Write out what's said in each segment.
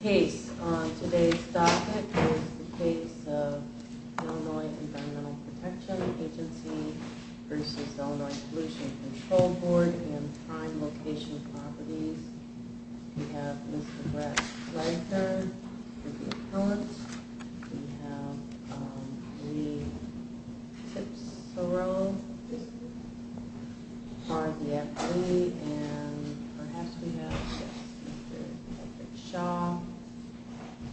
The case on today's docket is the case of Illinois Environmental Protection Agency v. Illinois Solution Control Board and Prime Location Properties. We have Mr. Brett Reicher for the appellant. We have Lee Tipsoro for the appellee. And perhaps we have Mr. Patrick Shaw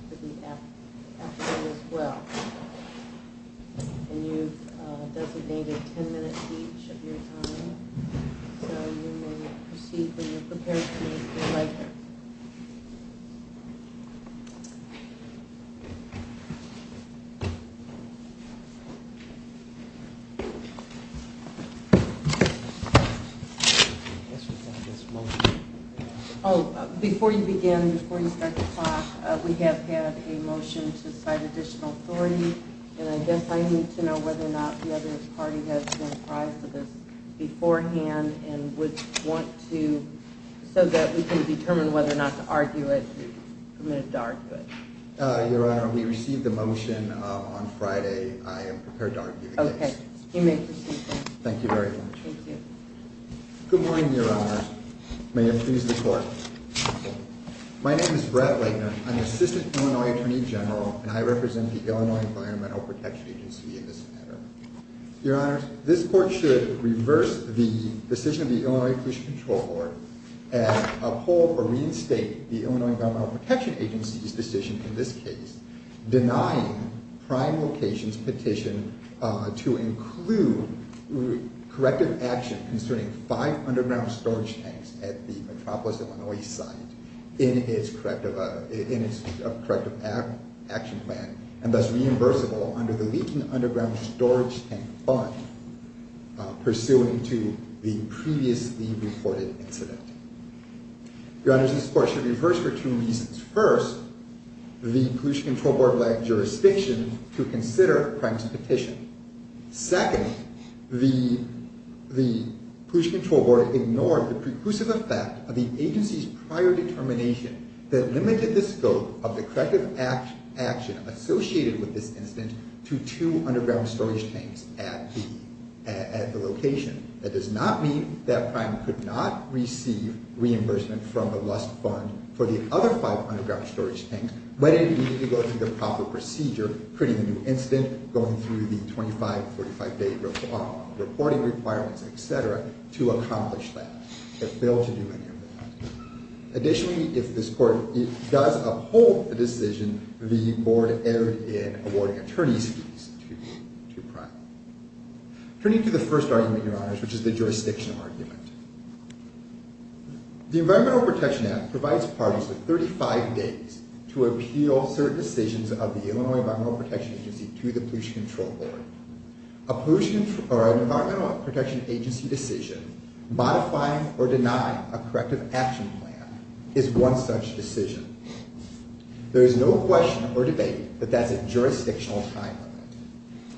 for the appellee as well. And you've designated 10 minutes each of your time. So you may proceed when you're prepared to Mr. Reicher. Before you begin, before you start to talk, we have had a motion to cite additional authority. And I guess I need to know whether or not the other party has been apprised of this beforehand and would want to, so that we can determine whether or not to argue it. Your Honor, we received the motion on Friday. I am prepared to argue the case. Okay. You may proceed. Thank you very much. Thank you. Good morning, Your Honor. May it please the Court. My name is Brett Reicher. I'm the Assistant Illinois Attorney General and I represent the Illinois Environmental Protection Agency in this matter. Your Honor, this Court should reverse the decision of the Illinois Pollution Control Court and uphold or reinstate the Illinois Environmental Protection Agency's decision in this case, denying Prime Locations' petition to include corrective action concerning five underground storage tanks at the Metropolis, Illinois site in its corrective action plan and thus reimbursable under the Leaking Underground Storage Tank Fund, pursuant to the previously reported incident. Your Honor, this Court should reverse for two reasons. First, the Pollution Control Board lacked jurisdiction to consider Prime's petition. Second, the Pollution Control Board ignored the preclusive effect of the agency's prior determination that limited the scope of the corrective action associated with this incident to two underground storage tanks at the location. That does not mean that Prime could not receive reimbursement from the Lust Fund for the other five underground storage tanks when it needed to go through the proper procedure, creating a new incident, going through the 25, 45-day reporting requirements, etc., to accomplish that. It failed to do any of that. Additionally, if this Court does uphold the decision, the Board erred in awarding attorney's fees to Prime. Turning to the first argument, Your Honors, which is the jurisdiction argument. The Environmental Protection Act provides parties with 35 days to appeal certain decisions of the Illinois Environmental Protection Agency to the Pollution Control Board. An Environmental Protection Agency decision modifying or denying a corrective action plan is one such decision. There is no question or debate that that's a jurisdictional time limit.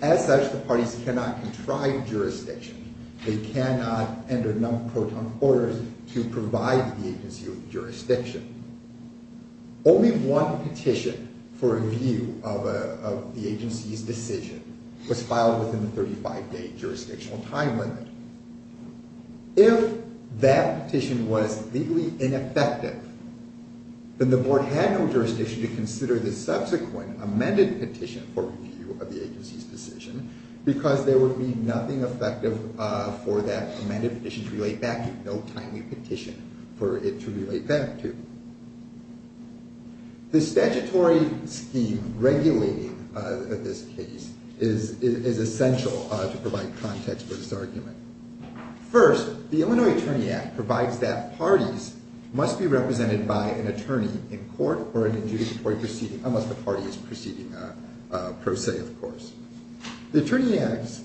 As such, the parties cannot contrive jurisdiction. They cannot enter non-proton orders to provide the agency with jurisdiction. Only one petition for review of the agency's decision was filed within the 35-day jurisdictional time limit. If that petition was legally ineffective, then the Board had no jurisdiction to consider the subsequent amended petition for review of the agency's decision because there would be nothing effective for that amended petition to relate back to. No timely petition for it to relate back to. The statutory scheme regulating this case is essential to provide context for this argument. First, the Illinois Attorney Act provides that parties must be represented by an attorney in court or an adjudicatory proceeding, unless the party is proceeding pro se, of course. The Attorney Act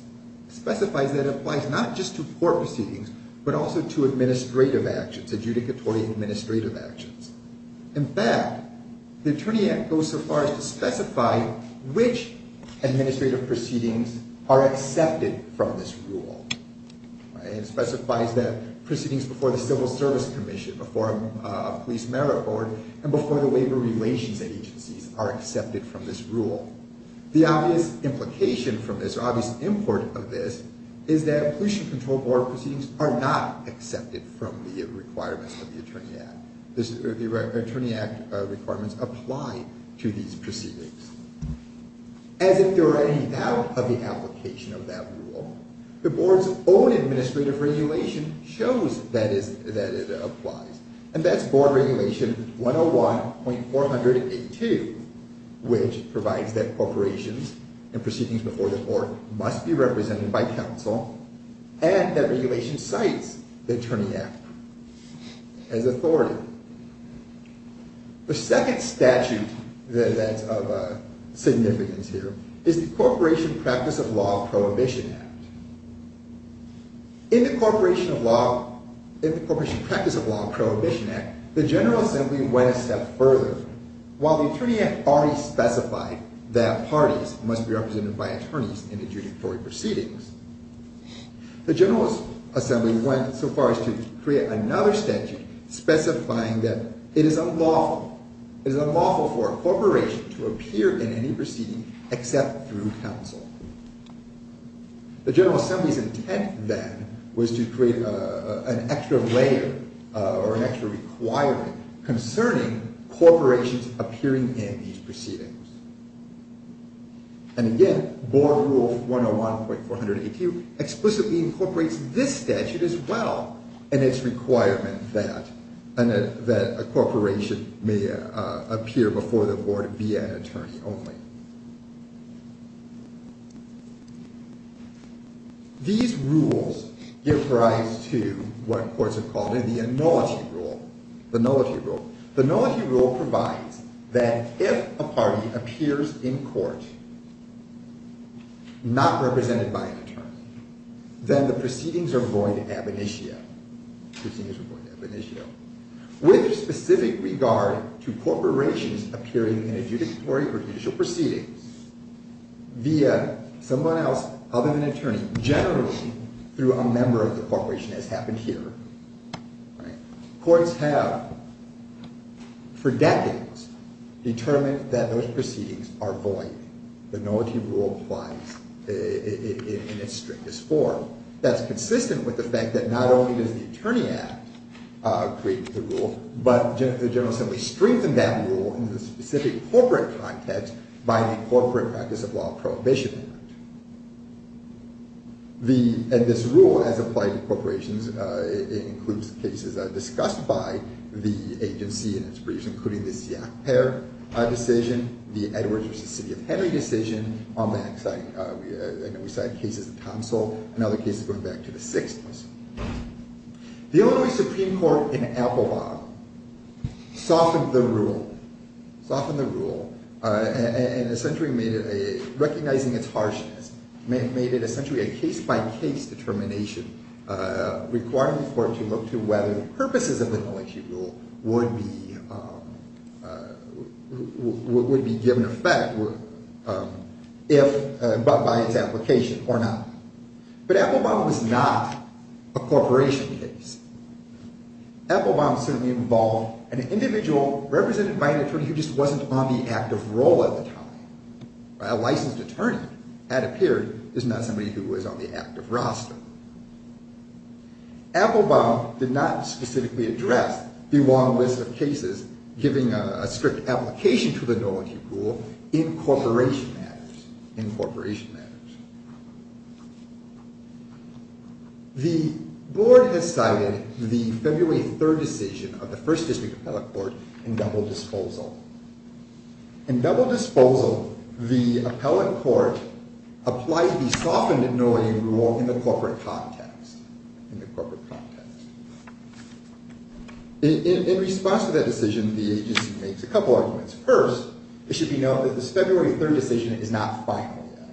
specifies that it applies not just to court proceedings, but also to administrative actions, adjudicatory administrative actions. In fact, the Attorney Act goes so far as to specify which administrative proceedings are accepted from this rule. It specifies that proceedings before the Civil Service Commission, before a police merit board, and before the labor relations agencies are accepted from this rule. The obvious implication from this, or obvious import of this, is that pollution control board proceedings are not accepted from the requirements of the Attorney Act. The Attorney Act requirements apply to these proceedings. As if there were any doubt of the application of that rule, the Board's own administrative regulation shows that it applies. And that's Board Regulation 101.482, which provides that corporations and proceedings before the court must be represented by counsel, and that regulation cites the Attorney Act as authority. The second statute that's of significance here is the Corporation Practice of Law Prohibition Act. In the Corporation Practice of Law Prohibition Act, the General Assembly went a step further. While the Attorney Act already specified that parties must be represented by attorneys in adjudicatory proceedings, the General Assembly went so far as to create another statute specifying that it is unlawful for a corporation to appear in any proceeding except through counsel. The General Assembly's intent then was to create an extra layer, or an extra requirement, concerning corporations appearing in these proceedings. And again, Board Rule 101.482 explicitly incorporates this statute as well, and its requirement that a corporation may appear before the Board via an attorney only. These rules give rise to what courts have called the Nullity Rule. The Nullity Rule provides that if a party appears in court not represented by an attorney, then the proceedings are void ab initio. With specific regard to corporations appearing in adjudicatory or judicial proceedings via someone else other than an attorney, generally through a member of the corporation, as happened here, courts have, for decades, determined that those proceedings are void. The Nullity Rule applies in its strictest form. That's consistent with the fact that not only does the Attorney Act create the rule, but the General Assembly strengthened that rule in the specific corporate context by the Corporate Practice of Law Prohibition Act. And this rule, as applied to corporations, includes cases discussed by the agency in its briefs, including the Siak-Pair decision, the Edwards v. City of Henry decision, on that side, we cited cases in Tomsell, and other cases going back to the Sixth. The Illinois Supreme Court, in Apelbaum, softened the rule, recognizing its harshness, made it essentially a case-by-case determination requiring the court to look to whether the purposes of the Nullity Rule would be given effect by its application or not. But Apelbaum was not a corporation case. Apelbaum certainly involved an individual represented by an attorney who just wasn't on the active role at the time. A licensed attorney, it appeared, is not somebody who is on the active roster. Apelbaum did not specifically address the long list of cases giving a strict application to the Nullity Rule in corporation matters. The Board has cited the February 3rd decision of the First District Appellate Court in double disposal. In double disposal, the Appellate Court applied the softened Nullity Rule in the corporate context. In response to that decision, the agency makes a couple arguments. First, it should be noted that this February 3rd decision is not final yet.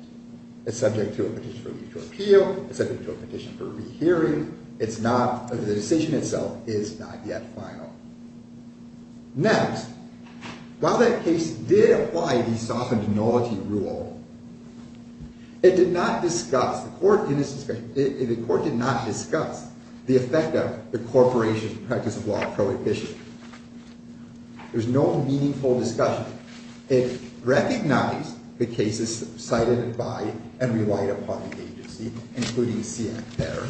It's subject to a petition for legal appeal. It's subject to a petition for a rehearing. The decision itself is not yet final. Next, while that case did apply the softened Nullity Rule, the court did not discuss the effect of the corporation's practice of law prohibition. There's no meaningful discussion. It recognized the cases cited by and relied upon the agency, including Seachter,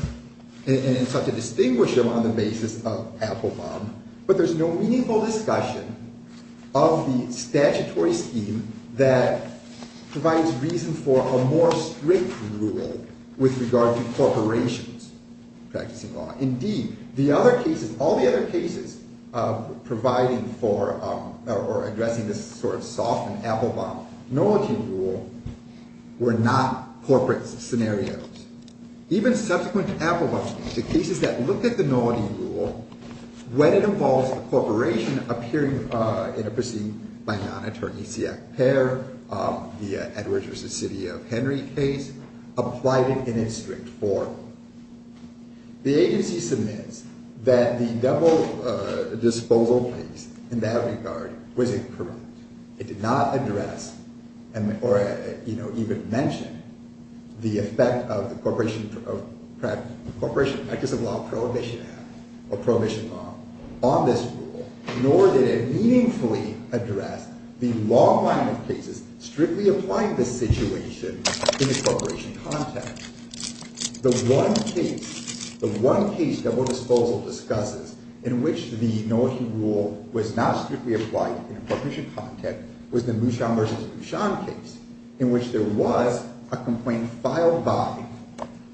and it sought to distinguish them on the basis of Apelbaum, but there's no meaningful discussion of the statutory scheme that provides reason for a more strict rule with regard to corporations practicing law. Indeed, all the other cases providing for or addressing this softened Apelbaum Nullity Rule were not corporate scenarios. Even subsequent Apelbaum cases that looked at the Nullity Rule, when it involves a corporation appearing in a proceeding by a non-attorney, the Edwards v. City of Henry case, applied it in a strict form. The agency submits that the double disposal case in that regard was incorrect. It did not address or even mention the effect of the corporation practice of law prohibition act or prohibition law on this rule, nor did it meaningfully address the long line of cases strictly applying this situation in the corporation context. The one case, the one case double disposal discusses in which the Nullity Rule was not strictly applied in a corporation context was the Mushan v. Bushan case in which there was a complaint filed by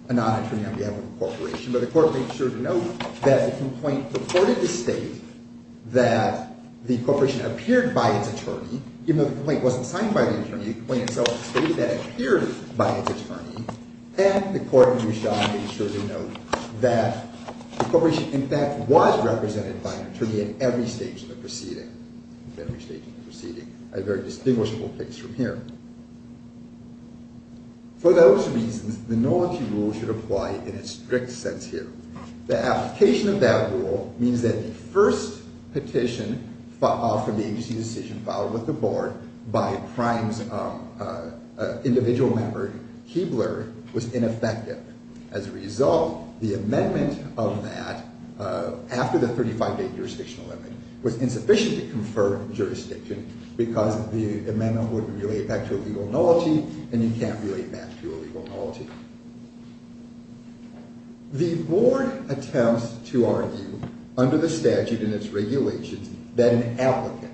a non-attorney on behalf of the corporation, but the court made sure to note that the complaint purported to state that the corporation appeared by its attorney, even though the complaint wasn't signed by the attorney, the complaint itself stated that it appeared by its attorney, and the court in Bushan made sure to note that the corporation in fact was represented by an attorney at every stage of the proceeding. At every stage of the proceeding. A very distinguishable case from here. For those reasons, the Nullity Rule should apply in a strict sense here. The application of that rule means that the first petition from the agency decision filed with the board by a individual member, Keebler, was ineffective. As a result, the amendment of that, after the 35-day jurisdictional limit, was insufficient to confer jurisdiction because the amendment wouldn't relate back to a legal nullity, and you can't relate back to a legal nullity. The board attempts to argue, under the statute and its regulations, that an applicant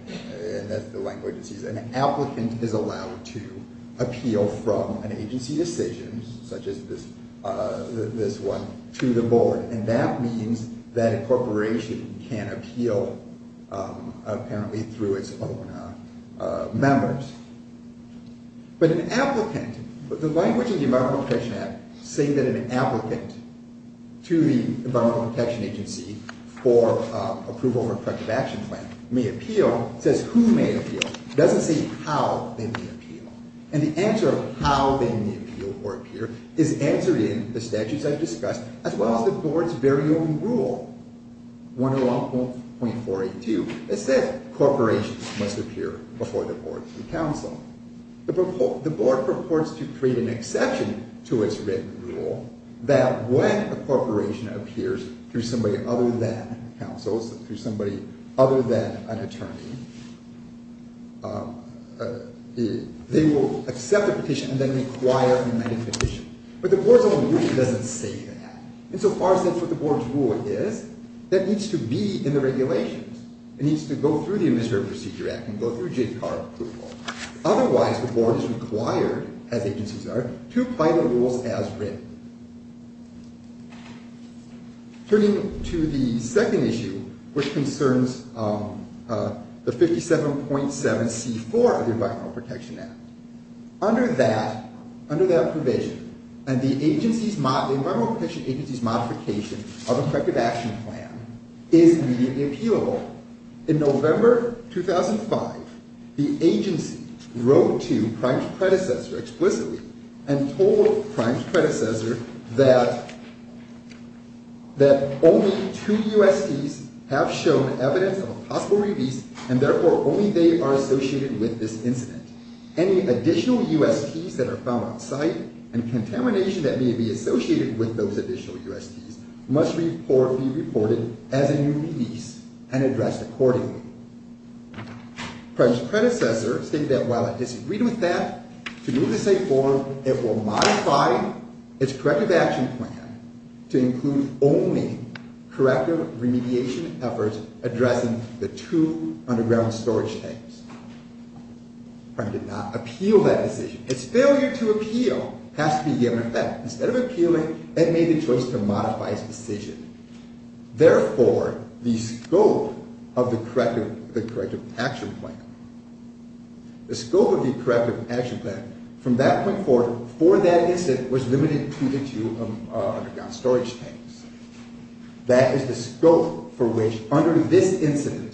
is allowed to appeal from an agency decision, such as this one, to the board, and that means that a corporation can appeal apparently through its own members. But an applicant, the language in the Environmental Protection Act saying that an applicant to the Environmental Protection Agency for approval of a corrective action plan may appeal says who may appeal. It doesn't say how they may appeal. And the answer of how they may appeal or appear is answered in the statutes I've discussed as well as the board's very own rule, 101.482. It says corporations must appear before the board of counsel. The board purports to create an exception to its written rule that when a corporation appears through somebody other than counsel, through somebody other than an attorney, they will accept the petition and then require an amended petition. But the board's own rule doesn't say that. Insofar as that's what the board's rule is, that needs to be in the regulations. It needs to go through the Administrative Procedure Act and go through JPR approval. Otherwise, the board is required, as agencies are, to apply the rules as written. Turning to the second issue, which concerns the 57.7c4 of the Environmental Protection Act. Under that provision, the Environmental Protection Agency's modification of a corrective action plan is immediately appealable. In November 2005, the agency wrote to Prime's predecessor explicitly and told Prime's predecessor that only two USDs have shown evidence of a possible release, and therefore only they are associated with this incident. Any additional USDs that are found on site and contamination that may be associated with those additional USDs must be reported as a new release and addressed accordingly. Prime's predecessor stated that while it disagreed with that, to move the state forward it will modify its corrective action plan to include only corrective remediation efforts addressing the two underground storage tanks. Prime did not appeal that decision. Its failure to appeal has to be given effect. Instead of appealing, it made the choice to modify its decision. Therefore, the scope of the corrective action plan, from that point forward, for that incident was limited to the two underground storage tanks. That is the scope for which, under this incident,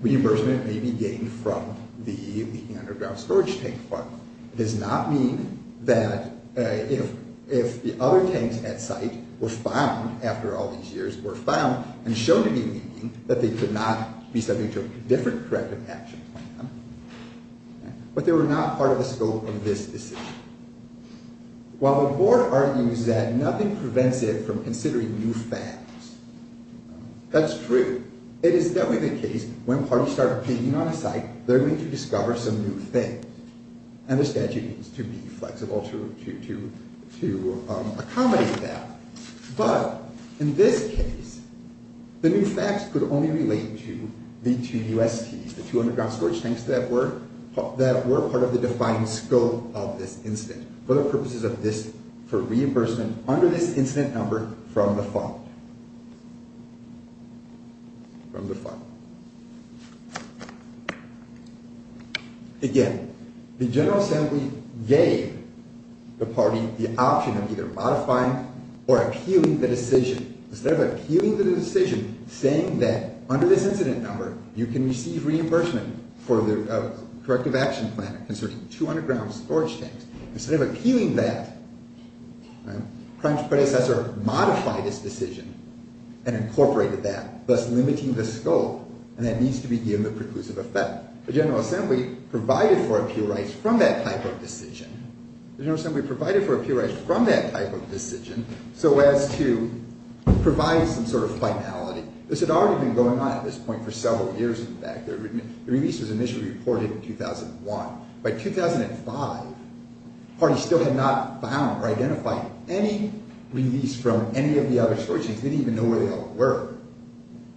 reimbursement may be gained from the underground storage tank fund. It does not mean that if the other tanks at site were found after all these years were found and shown to be leaking, that they could not be subject to a different corrective action plan. But they were not part of the scope of this decision. While the board argues that nothing prevents it from considering new facts, that's true. It is definitely the case that when parties start picking on a site, they're going to discover some new things. And the statute needs to be flexible to accommodate that. But, in this case, the new facts could only relate to the two USDs, the two underground storage tanks, that were part of the defined scope of this incident for the purposes of reimbursement under this incident number from the fund. Again, the General Assembly gave the party the option of either modifying or appealing the decision. Instead of appealing the decision, saying that under this incident number, you can receive reimbursement for the corrective action plan concerning two underground storage tanks, instead of appealing that, Prime's predecessor modified his decision and incorporated that, thus limiting the scope, and that needs to be given the preclusive effect. The General Assembly provided for appeal rights from that type of decision, so as to provide some sort of finality. This had already been going on at this point for several years, in fact. The release was initially reported in 2001. By 2005, parties still had not found or identified any release from any of the other storage tanks. They didn't even know where they all were.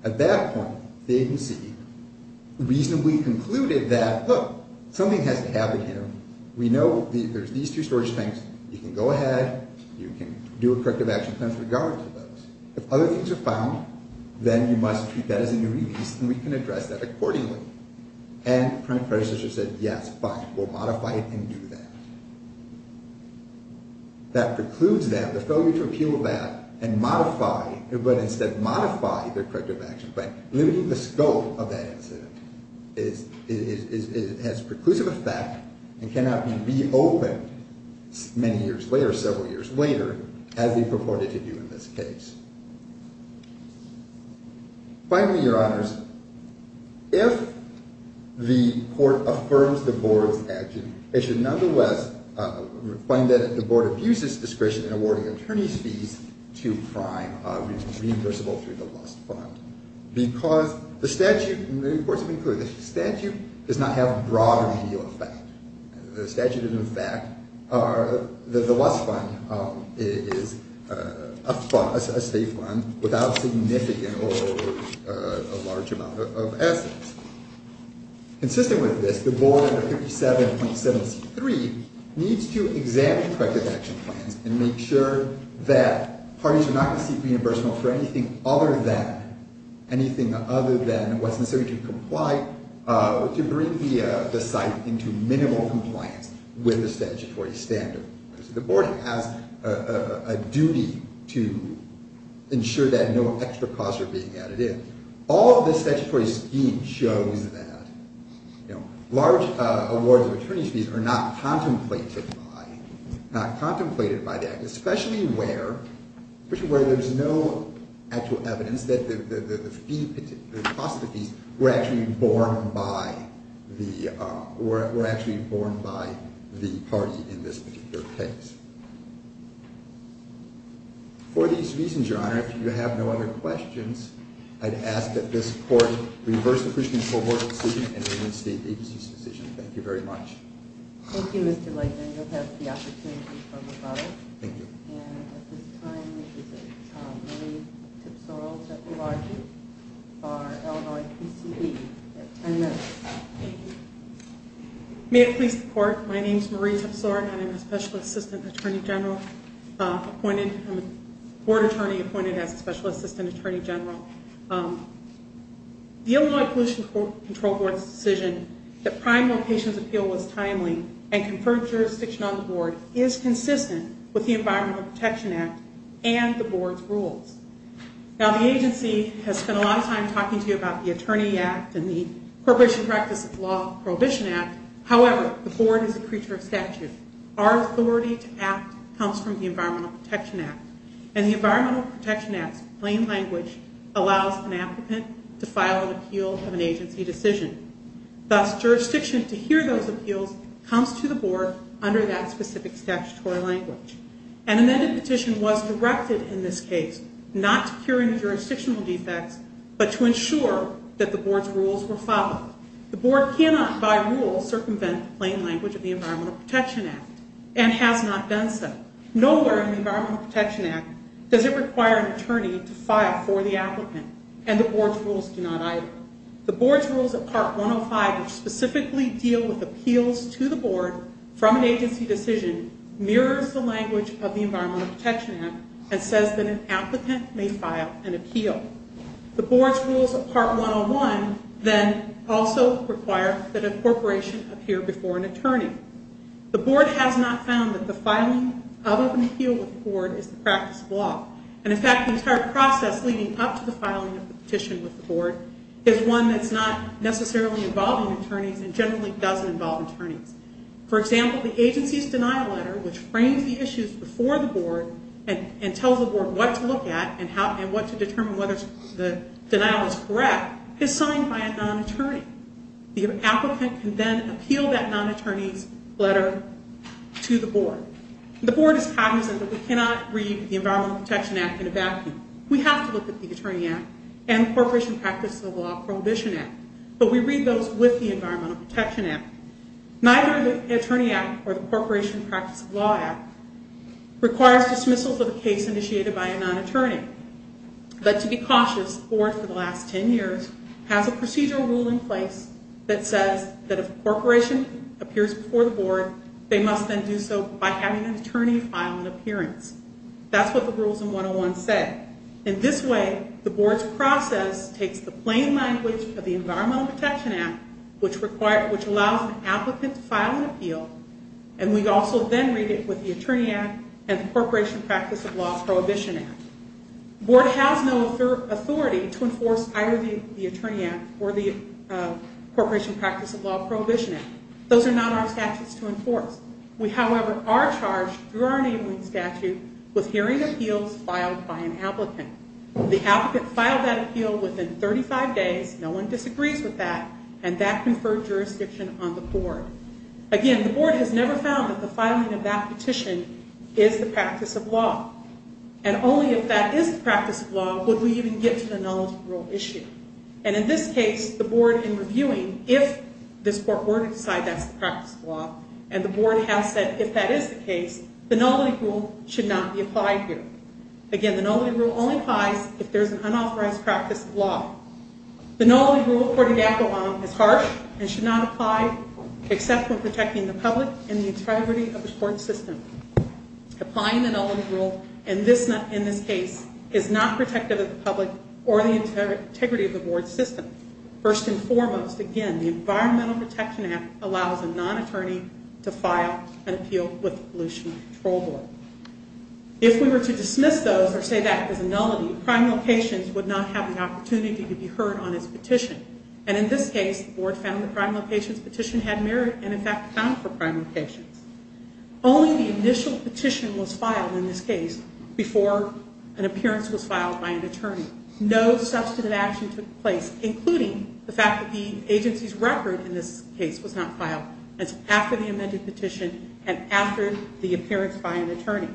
At that point, the agency reasonably concluded that, look, something has to happen here. We know there's these two storage tanks. You can go ahead, you can do a corrective action plan with regard to those. If other things are found, then you must treat that as a new release, and we can address that accordingly. And Prime's predecessor said, yes, fine, we'll modify it and do that. That precludes them, the failure to appeal that and modify, but instead modify their corrective action plan, limiting the scope of that incident has a preclusive effect and cannot be reopened many years later, several years later, as we purported to do in this case. Finally, Your Honors, if the court affirms the board's action, it should nonetheless find that the board abuses discretion in awarding attorney's fees to Prime, which is reimbursable through the Lust Fund, because the statute, the statute does not have a broad remedial effect. The statute is, in fact, the Lust Fund is a state fund without significant or a large amount of assets. Consistent with this, the board under 57.73 needs to examine corrective action plans and make sure that parties are not receiving reimbursement for anything other than, and what's necessary to comply, to bring the site into minimal compliance with the statutory standard. The board has a duty to ensure that no extra costs are being added in. All of the statutory scheme shows that large awards of attorney's fees are not contemplated by, especially where there's no actual evidence that the cost of the fees were actually borne by the party in this particular case. For these reasons, Your Honor, if you have no other questions, I'd ask that this court reverse the Christian Cohort decision and reinstate the agency's decision. Thank you very much. Thank you, Mr. Lightner. You'll have the opportunity to talk about it. Thank you. And at this time, I'd like to say that Marie Tipsora is at the margin for Illinois PCV at 10 minutes. Thank you. May it please the court, my name is Marie Tipsora and I'm a special assistant attorney general appointed, I'm a board attorney appointed as a special assistant attorney general. The Illinois Pollution Control Board's decision that prime locations appeal was timely and conferred jurisdiction on the board is consistent with the Environmental Protection Act and the board's rules. Now, the agency has spent a lot of time talking to you about the Attorney Act and the corporation practice of the Law Prohibition Act. However, the board is a creature of statute. Our authority to act comes from the Environmental Protection Act. And the Environmental Protection Act's plain language allows an applicant to file an appeal of an agency decision. Thus, jurisdiction to hear those appeals comes to the board under that specific statutory language. An amended petition was directed in this case not to cure any jurisdictional defects, but to ensure that the board's rules were followed. The board cannot, by rule, circumvent the plain language of the Environmental Protection Act and has not done so. Nowhere in the Environmental Protection Act does it require an attorney to file for the applicant, and the board's rules do not either. The board's rules of Part 105, which specifically deal with appeals to the board from an agency decision, mirrors the language of the Environmental Protection Act and says that an applicant may file an appeal. The board's rules of Part 101 then also require that a corporation appear before an attorney. The board has not found that the filing of an appeal with the board is the practice of law. And, in fact, the entire process leading up to the filing of the petition with the board is one that's not necessarily involving attorneys and generally doesn't involve attorneys. For example, the agency's denial letter, which frames the issues before the board and tells the board what to look at and what to determine whether the denial is correct, is signed by a non-attorney. The applicant can then appeal that non-attorney's letter to the board. The board is cognizant that we cannot read the Environmental Protection Act in a vacuum. We have to look at the Attorney Act and the Corporation Practice of Law Prohibition Act, but we read those with the Environmental Protection Act. Neither the Attorney Act or the Corporation Practice of Law Act requires dismissals of a case initiated by a non-attorney. But to be cautious, the board for the last 10 years has a procedural rule in place that says that if a corporation appears before the board, they must then do so by having an attorney file an appearance. That's what the rules in 101 say. In this way, the board's process takes the plain language of the Environmental Protection Act, which allows an applicant to file an appeal, and we also then read it with the Attorney Act and the Corporation Practice of Law Prohibition Act. The board has no authority to enforce either the Attorney Act or the Corporation Practice of Law Prohibition Act. Those are not our statutes to enforce. We, however, are charged through our enabling statute with hearing appeals filed by an applicant. The applicant filed that appeal within 35 days. No one disagrees with that, and that conferred jurisdiction on the board. Again, the board has never found that the filing of that petition is the practice of law. And only if that is the practice of law would we even get to the nullity rule issue. And in this case, the board, in reviewing, if this court were to decide that's the practice of law, and the board has said if that is the case, the nullity rule should not be applied here. Again, the nullity rule only applies if there's an unauthorized practice of law. The nullity rule, according to ECHO Law, is harsh and should not apply except when protecting the public and the integrity of the court system. Applying the nullity rule in this case is not protective of the public or the integrity of the board system. First and foremost, again, the Environmental Protection Act allows a non-attorney to file an appeal with the Pollution Control Board. If we were to dismiss those or say that is a nullity, prime locations would not have the opportunity to be heard on its petition. And in this case, the board found the prime locations petition had merit and, in fact, found for prime locations. Only the initial petition was filed in this case before an appearance was filed by an attorney. No substantive action took place, including the fact that the agency's record in this case was not filed. It's after the amended petition and after the appearance by an attorney.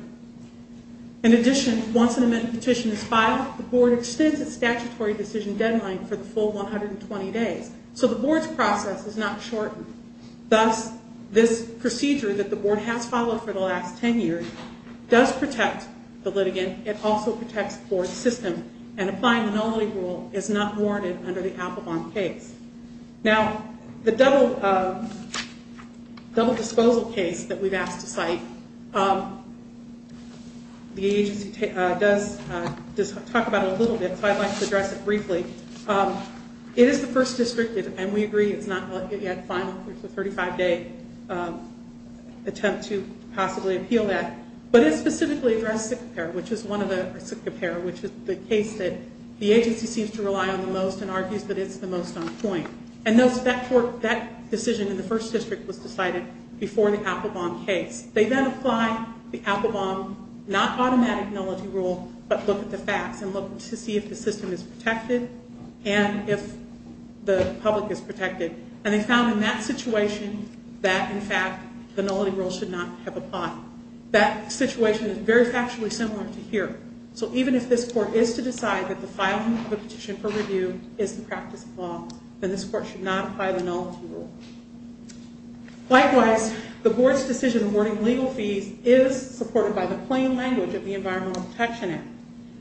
In addition, once an amended petition is filed, the board extends its statutory decision deadline for the full 120 days. So the board's process is not shortened. Thus, this procedure that the board has followed for the last 10 years does protect the litigant. It also protects the board system. And applying the nullity rule is not warranted under the Applebaum case. Now, the double disposal case that we've asked to cite, the agency does talk about it a little bit, so I'd like to address it briefly. It is the first district, and we agree it's not yet final. There's a 35-day attempt to possibly appeal that. But it specifically addressed sick repair, which is the case that the agency seems to rely on the most and argues that it's the most on point. And that decision in the first district was decided before the Applebaum case. They then apply the Applebaum, not automatic nullity rule, but look at the facts and look to see if the system is protected and if the public is protected. And they found in that situation that, in fact, the nullity rule should not have applied. That situation is very factually similar to here. So even if this court is to decide that the filing of a petition for review is the practice of law, then this court should not apply the nullity rule. Likewise, the board's decision awarding legal fees is supported by the plain language of the Environmental Protection Act.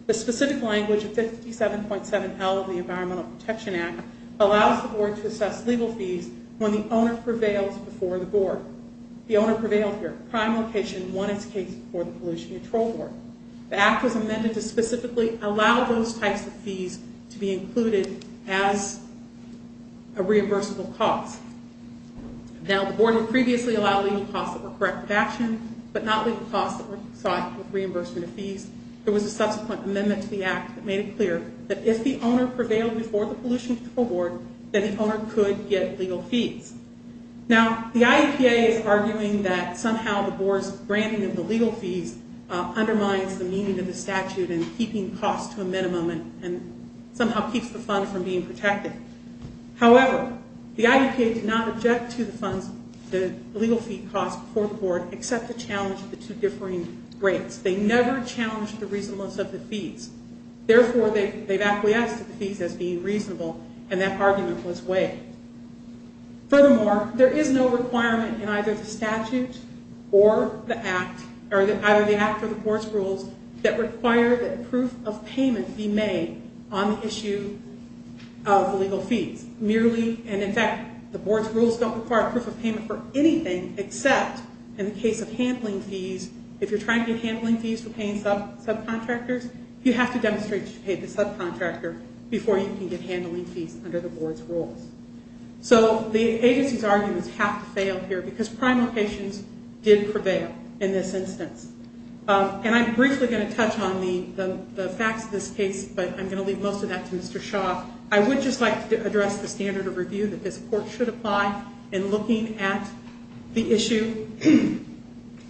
The specific language of 57.7L of the Environmental Protection Act allows the board to assess legal fees when the owner prevails before the board. The owner prevailed here. Prime location won its case before the Pollution Control Board. The act was amended to specifically allow those types of fees to be included as a reimbursable cost. Now, the board had previously allowed legal costs that were correct in action, but not legal costs that were sought with reimbursement of fees. There was a subsequent amendment to the act that made it clear that if the owner prevailed before the Pollution Control Board, then the owner could get legal fees. Now, the IEPA is arguing that somehow the board's granting of the legal fees undermines the meaning of the statute in keeping costs to a minimum and somehow keeps the fund from being protected. However, the IEPA did not object to the legal fee cost before the board except to challenge the two differing rates. They never challenged the reasonableness of the fees. Therefore, they've acquiesced to the fees as being reasonable, and that argument was waived. Furthermore, there is no requirement in either the statute or the act, or either the act or the board's rules, that require that proof of payment be made on the issue of legal fees. Merely, and in fact, the board's rules don't require proof of payment for anything except in the case of handling fees, if you're trying to get handling fees for paying subcontractors, you have to demonstrate that you paid the subcontractor before you can get handling fees under the board's rules. So, the agency's arguments have to fail here because prime locations did prevail in this instance. And I'm briefly going to touch on the facts of this case, but I'm going to leave most of that to Mr. Shaw. I would just like to address the standard of review that this court should apply in looking at the issue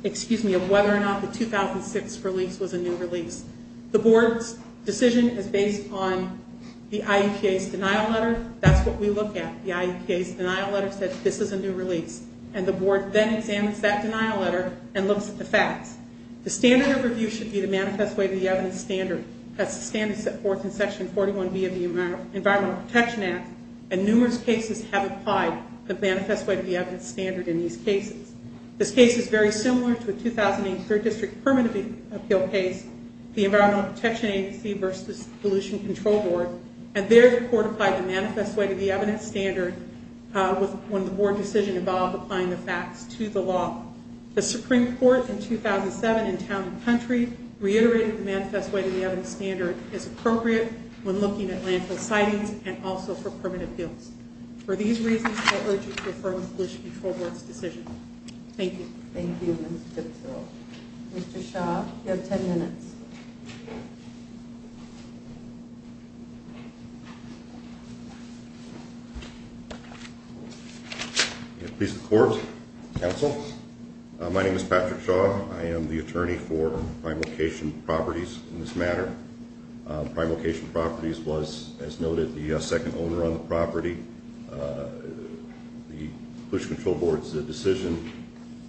of whether or not the 2006 release was a new release. The board's decision is based on the IEPA's denial letter. That's what we look at. The IEPA's denial letter says this is a new release. And the board then examines that denial letter and looks at the facts. The standard of review should be the manifest way to the evidence standard. That's the standard set forth in Section 41B of the Environmental Protection Act. And numerous cases have applied the manifest way to the evidence standard in these cases. This case is very similar to a 2008 3rd District Permanent Appeal case, the Environmental Protection Agency versus Pollution Control Board. And there, the court applied the manifest way to the evidence standard when the board decision involved applying the facts to the law. The Supreme Court, in 2007, in town and country, reiterated the manifest way to the evidence standard as appropriate when looking at landfill sightings and also for permanent appeals. For these reasons, I urge you to affirm the Pollution Control Board's decision. Thank you. Thank you, Ms. Gibson. Mr. Shaw, you have 10 minutes. Please be seated. Please report, counsel. My name is Patrick Shaw. I am the attorney for Prime Location Properties in this matter. Prime Location Properties was, as noted, the second owner on the property. The Pollution Control Board's decision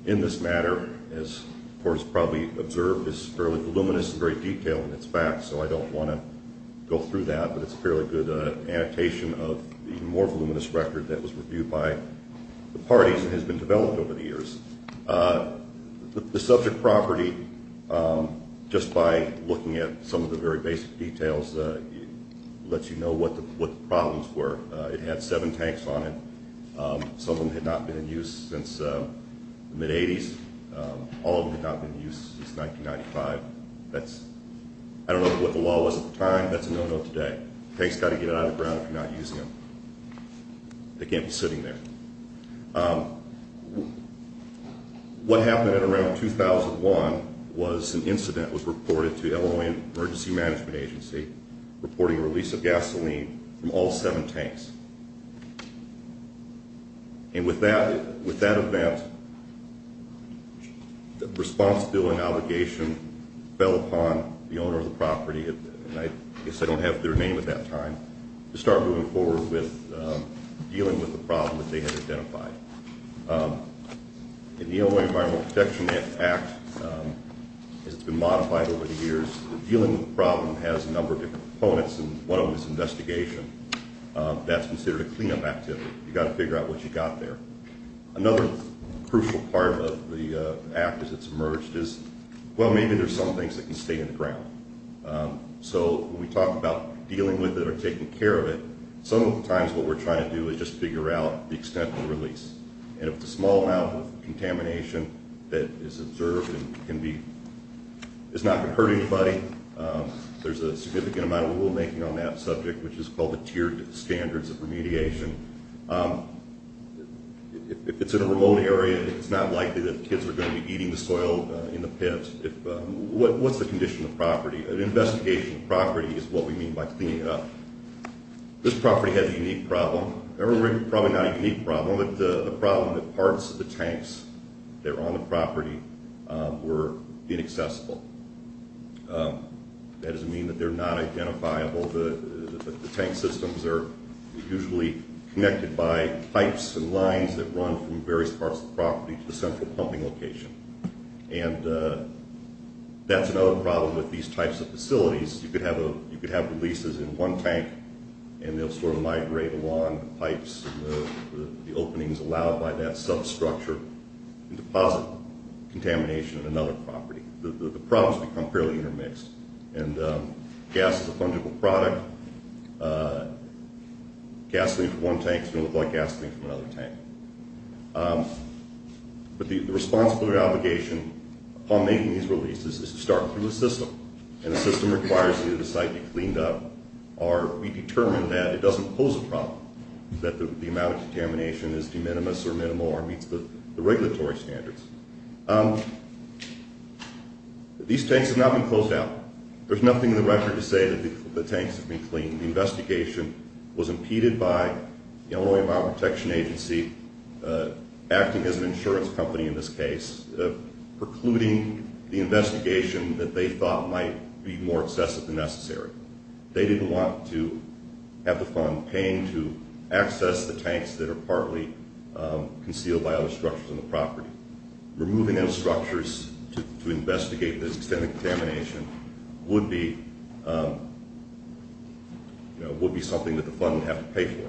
in this matter, as the court has probably observed, is fairly voluminous and very detailed in its facts, so I don't want to go through that. But it's a fairly good annotation of the more voluminous record that was reviewed by the parties and has been developed over the years. The subject property, just by looking at some of the very basic details, lets you know what the problems were. It had seven tanks on it. Some of them had not been in use since the mid-'80s. All of them had not been used since 1995. I don't know what the law was at the time. That's a no-no today. Tanks have got to get out of the ground if you're not using them. They can't be sitting there. What happened around 2001 was an incident was reported to the Illinois Emergency Management Agency reporting a release of gasoline from all seven tanks. And with that event, the responsibility and obligation fell upon the owner of the property, and I guess I don't have their name at that time, to start moving forward with dealing with the problem that they had identified. In the Illinois Environmental Protection Act, as it's been modified over the years, dealing with the problem has a number of different components, and one of them is investigation. That's considered a cleanup activity. You've got to figure out what you've got there. Another crucial part of the act as it's emerged is, well, maybe there's some things that can stay in the ground. So when we talk about dealing with it or taking care of it, some of the times what we're trying to do is just figure out the extent of the release. And if the small amount of contamination that is observed is not going to hurt anybody, there's a significant amount of rulemaking on that subject, which is called the tiered standards of remediation. If it's in a remote area, it's not likely that kids are going to be eating the soil in the pit. What's the condition of the property? An investigation of the property is what we mean by cleaning it up. This property had a unique problem. Probably not a unique problem, but the problem that parts of the tanks that are on the property were inaccessible. That doesn't mean that they're not identifiable. The tank systems are usually connected by pipes and lines that run from various parts of the property to the central pumping location. And that's another problem with these types of facilities. You could have releases in one tank and they'll sort of migrate along the pipes and the openings allowed by that substructure and deposit contamination in another property. The problems become fairly intermixed. And gas is a fungible product. Gas leaked from one tank is going to look like gas leaked from another tank. But the responsibility or obligation upon making these releases is to start with the system. And the system requires that the site be cleaned up or we determine that it doesn't pose a problem, that the amount of contamination is de minimis or minimal or meets the regulatory standards. These tanks have not been closed down. There's nothing in the record to say that the tanks have been cleaned. The investigation was impeded by the Illinois Environmental Protection Agency acting as an insurance company in this case, precluding the investigation that they thought might be more excessive than necessary. They didn't want to have the fund paying to access the tanks that are partly concealed by other structures on the property. Removing those structures to investigate this extent of contamination would be something that the fund would have to pay for.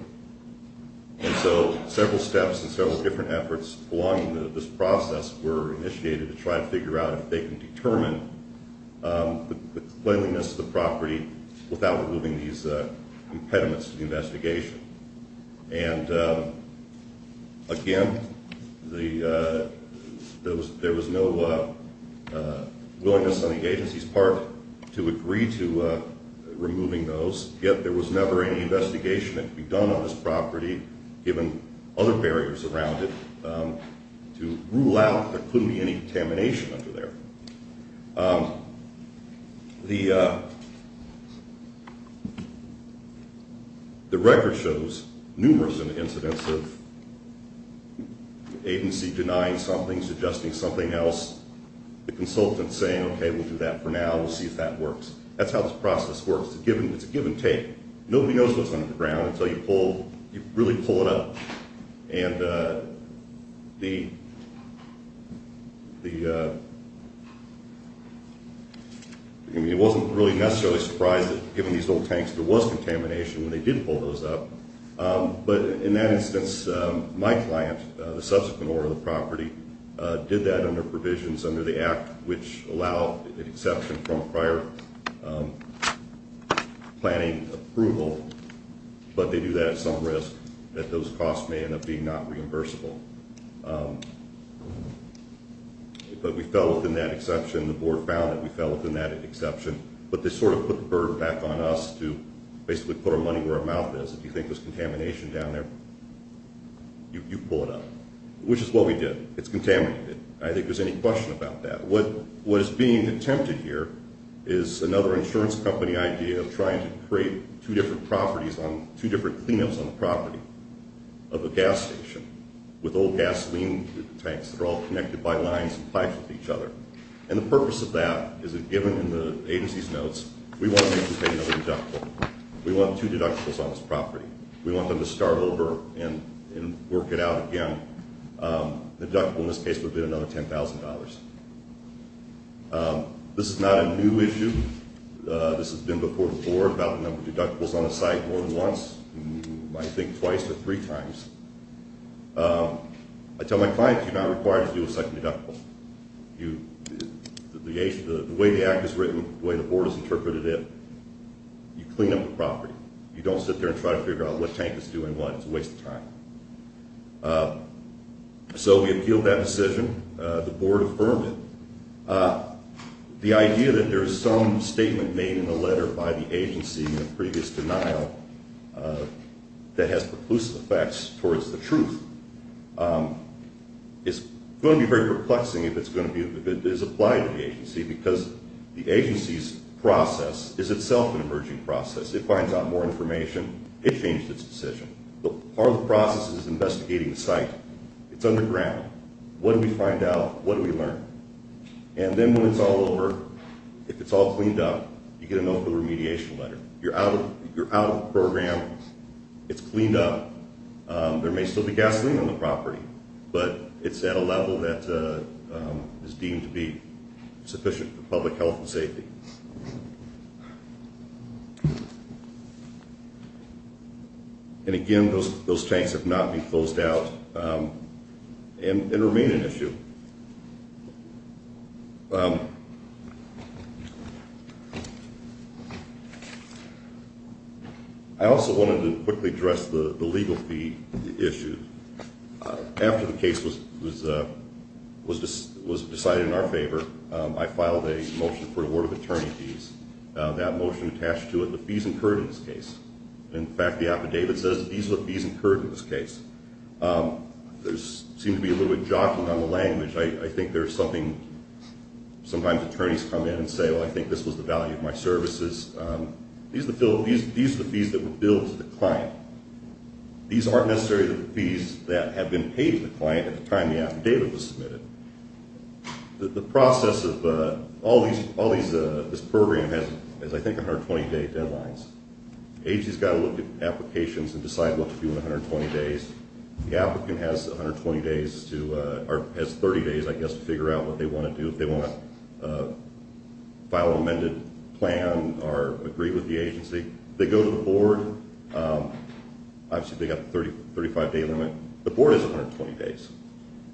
And so several steps and several different efforts along this process were initiated to try to figure out if they can determine the cleanliness of the property without removing these impediments to the investigation. And, again, there was no willingness on the agency's part to agree to removing those, yet there was never any investigation that could be done on this property, given other barriers around it, to rule out that there couldn't be any contamination under there. The record shows numerous incidents of the agency denying something, suggesting something else, the consultant saying, okay, we'll do that for now, we'll see if that works. That's how this process works. It's a given take. Nobody knows what's under the ground until you pull, you really pull it up. And the, I mean, it wasn't really necessarily surprising, given these old tanks, there was contamination when they did pull those up, but in that instance, my client, the subsequent owner of the property, did that under provisions under the Act, which allow an exception from prior planning approval, but they do that at some risk, that those costs may end up being not reimbursable. But we fell within that exception, the board found that we fell within that exception, but they sort of put the burden back on us to basically put our money where our mouth is. If you think there's contamination down there, you pull it up, which is what we did. It's contaminated. I think there's any question about that. What is being attempted here is another insurance company idea of trying to create two different properties, two different cleanups on the property of a gas station with old gasoline tanks that are all connected by lines and pipes with each other. And the purpose of that is that given in the agency's notes, we want them to pay another deductible. We want two deductibles on this property. We want them to start over and work it out again. The deductible in this case would be another $10,000. This is not a new issue. This has been before the board about the number of deductibles on the site more than once. You might think twice or three times. I tell my clients you're not required to do a second deductible. The way the Act is written, the way the board has interpreted it, you clean up the property. You don't sit there and try to figure out what tank is doing what. It's a waste of time. So we appealed that decision. The board affirmed it. The idea that there is some statement made in the letter by the agency in the previous denial that has preclusive effects towards the truth is going to be very perplexing if it is applied to the agency because the agency's process is itself an emerging process. It finds out more information. It changed its decision. Part of the process is investigating the site. It's underground. What do we find out? What do we learn? And then when it's all over, if it's all cleaned up, you get an open remediation letter. You're out of the program. It's cleaned up. There may still be gasoline on the property, and, again, those tanks have not been closed out and remain an issue. I also wanted to quickly address the legal fee issue. After the case was decided in our favor, I filed a motion for award of attorney fees. That motion attached to it the fees incurred in this case. In fact, the affidavit says these are the fees incurred in this case. There seems to be a little bit of jockeying on the language. I think there's something. Sometimes attorneys come in and say, well, I think this was the value of my services. These are the fees that were billed to the client. These aren't necessarily the fees that have been paid to the client at the time the affidavit was submitted. The process of all this program has, I think, 120-day deadlines. The agency has got to look at applications and decide what to do in 120 days. The applicant has 30 days, I guess, to figure out what they want to do. If they want to file an amended plan or agree with the agency, they go to the board. Obviously, they've got the 35-day limit. The board has 120 days.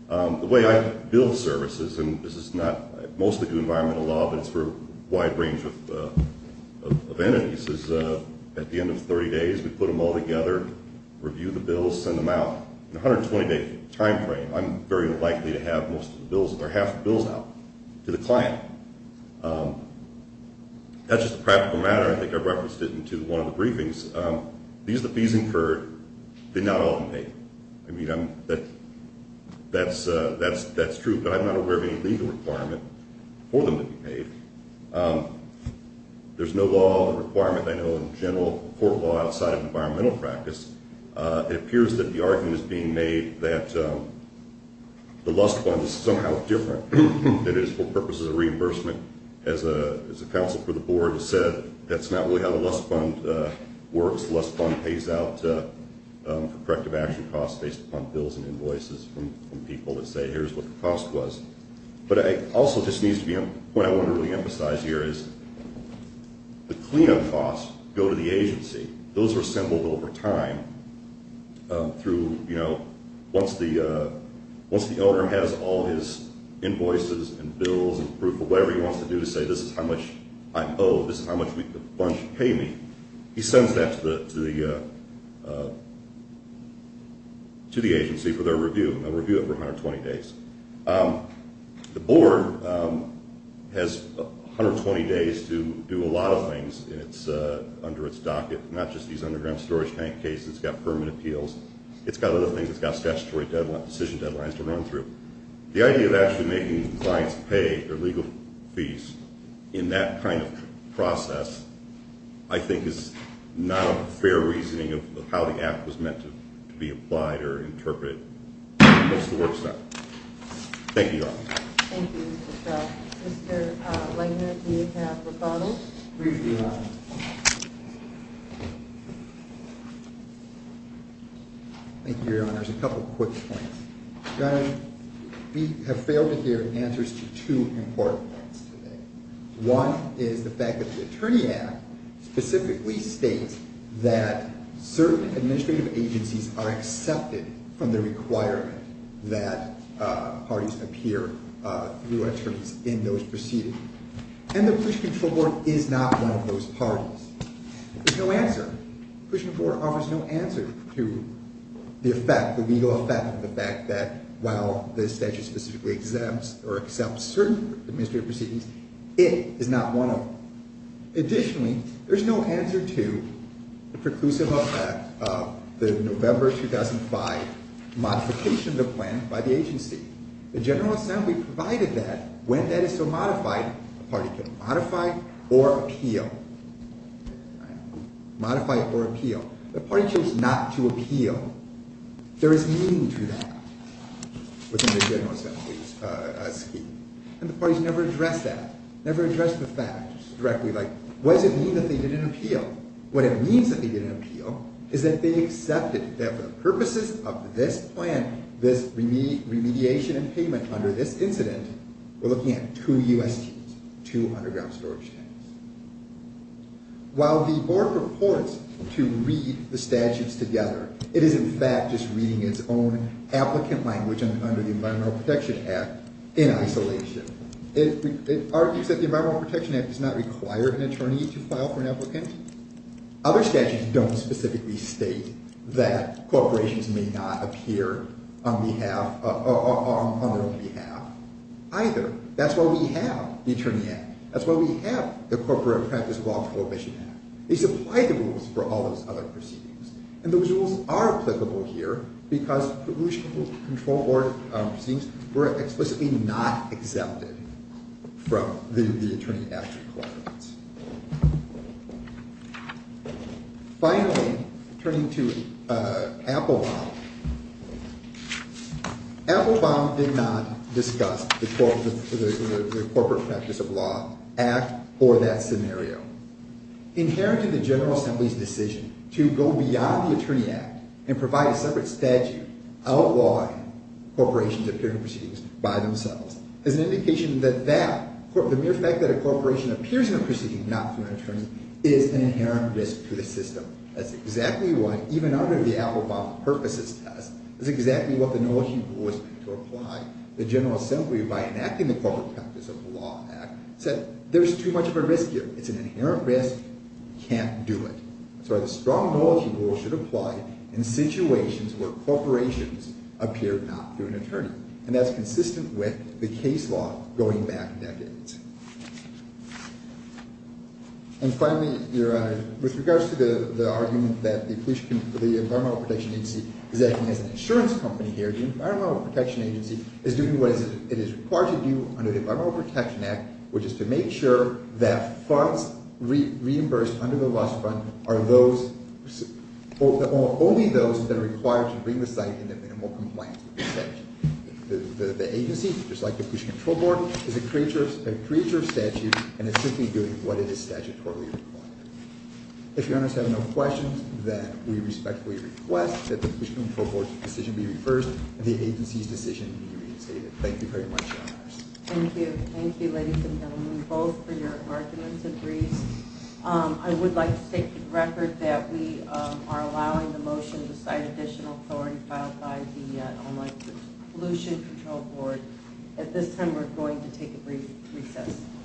The way I bill services, and this is not mostly due to environmental law, but it's for a wide range of entities, is at the end of 30 days, we put them all together, review the bills, send them out. In a 120-day timeframe, I'm very likely to have most of the bills or half the bills out to the client. That's just a practical matter. I think I referenced it into one of the briefings. These are the fees incurred. They're not all paid. I mean, that's true, but I'm not aware of any legal requirement for them to be paid. There's no law or requirement, I know, in general court law outside of environmental practice. It appears that the argument is being made that the Lust Fund is somehow different. That it is for purposes of reimbursement. As a counsel for the board has said, that's not really how the Lust Fund works. The Lust Fund pays out corrective action costs based upon bills and invoices from people that say, here's what the cost was. But it also just needs to be, what I want to really emphasize here is the cleanup costs go to the agency. Those are assembled over time through, you know, once the owner has all his invoices and bills and proof of whatever he wants to do to say, this is how much I owe, this is how much the fund should pay me. He sends that to the agency for their review, and they'll review it for 120 days. The board has 120 days to do a lot of things under its docket. Not just these underground storage tank cases. It's got permit appeals. It's got other things. It's got statutory decision deadlines to run through. The idea of actually making clients pay their legal fees in that kind of process, I think, is not a fair reasoning of how the act was meant to be applied or interpreted. That's the work side. Thank you, Your Honor. Thank you, Mr. Stelzner. Mr. Langner, do you have rebuttals? Briefly, Your Honor. Thank you, Your Honor. Just a couple quick points. Your Honor, we have failed to hear answers to two important points today. One is the fact that the Attorney Act specifically states that certain administrative agencies are accepted from the requirement that parties appear through attorneys in those proceedings. And the Police Control Board is not one of those parties. There's no answer. The Police Control Board offers no answer to the effect, the legal effect, the fact that while the statute specifically exempts or accepts certain administrative proceedings, it is not one of them. Additionally, there's no answer to the preclusive effect of the November 2005 modification of the plan by the agency. The General Assembly provided that. When that is so modified, a party can modify or appeal. The party chose not to appeal. There is meaning to that within the General Assembly's scheme. And the parties never address that, never address the fact directly like, what does it mean that they didn't appeal? What it means that they didn't appeal is that they accepted that for the purposes of this plan, this remediation and payment under this incident, we're looking at two USTs, two underground storage tents. While the board purports to read the statutes together, it is in fact just reading its own applicant language under the Environmental Protection Act in isolation. It argues that the Environmental Protection Act does not require an attorney to file for an applicant. Other statutes don't specifically state that corporations may not appear on their own behalf either. That's why we have the Attorney Act. That's why we have the Corporate Practice of Law Prohibition Act. These apply to rules for all those other proceedings. And those rules are applicable here because pollution control proceedings were explicitly not exempted from the attorney-at-large requirements. Finally, turning to Applebaum, Applebaum did not discuss the Corporate Practice of Law Act or that scenario. Inherent in the General Assembly's decision to go beyond the Attorney Act and provide a separate statute outlawing corporations appearing in proceedings by themselves is an indication that that, the mere fact that a corporation appears in a proceeding not through an attorney is an inherent risk to the system. That's exactly what, even under the Applebaum Purposes Test, that's exactly what the knowledgeable was meant to apply. The General Assembly, by enacting the Corporate Practice of Law Act, said there's too much of a risk here. It's an inherent risk. You can't do it. That's why the strong knowledgeable should apply in situations where corporations appear not through an attorney. And that's consistent with the case law going back decades. And finally, Your Honor, with regards to the argument that the Environmental Protection Agency is acting as an insurance company here, the Environmental Protection Agency is doing what it is required to do under the Environmental Protection Act, which is to make sure that funds reimbursed under the loss fund are those, only those that are required to bring the site into minimal compliance with the statute. The agency, just like the Fish and Control Board, is a creature of statute and is simply doing what it is statutorily required. If Your Honors have no questions, then we respectfully request that the Fish and Control Board's decision be reversed and the agency's decision be reinstated. Thank you very much, Your Honors. Thank you. Thank you, ladies and gentlemen, both for your arguments and briefs. I would like to state with record that we are allowing the motion to cite additional authority filed by the Online Pollution Control Board. At this time, we're going to take a brief recess. Thank you.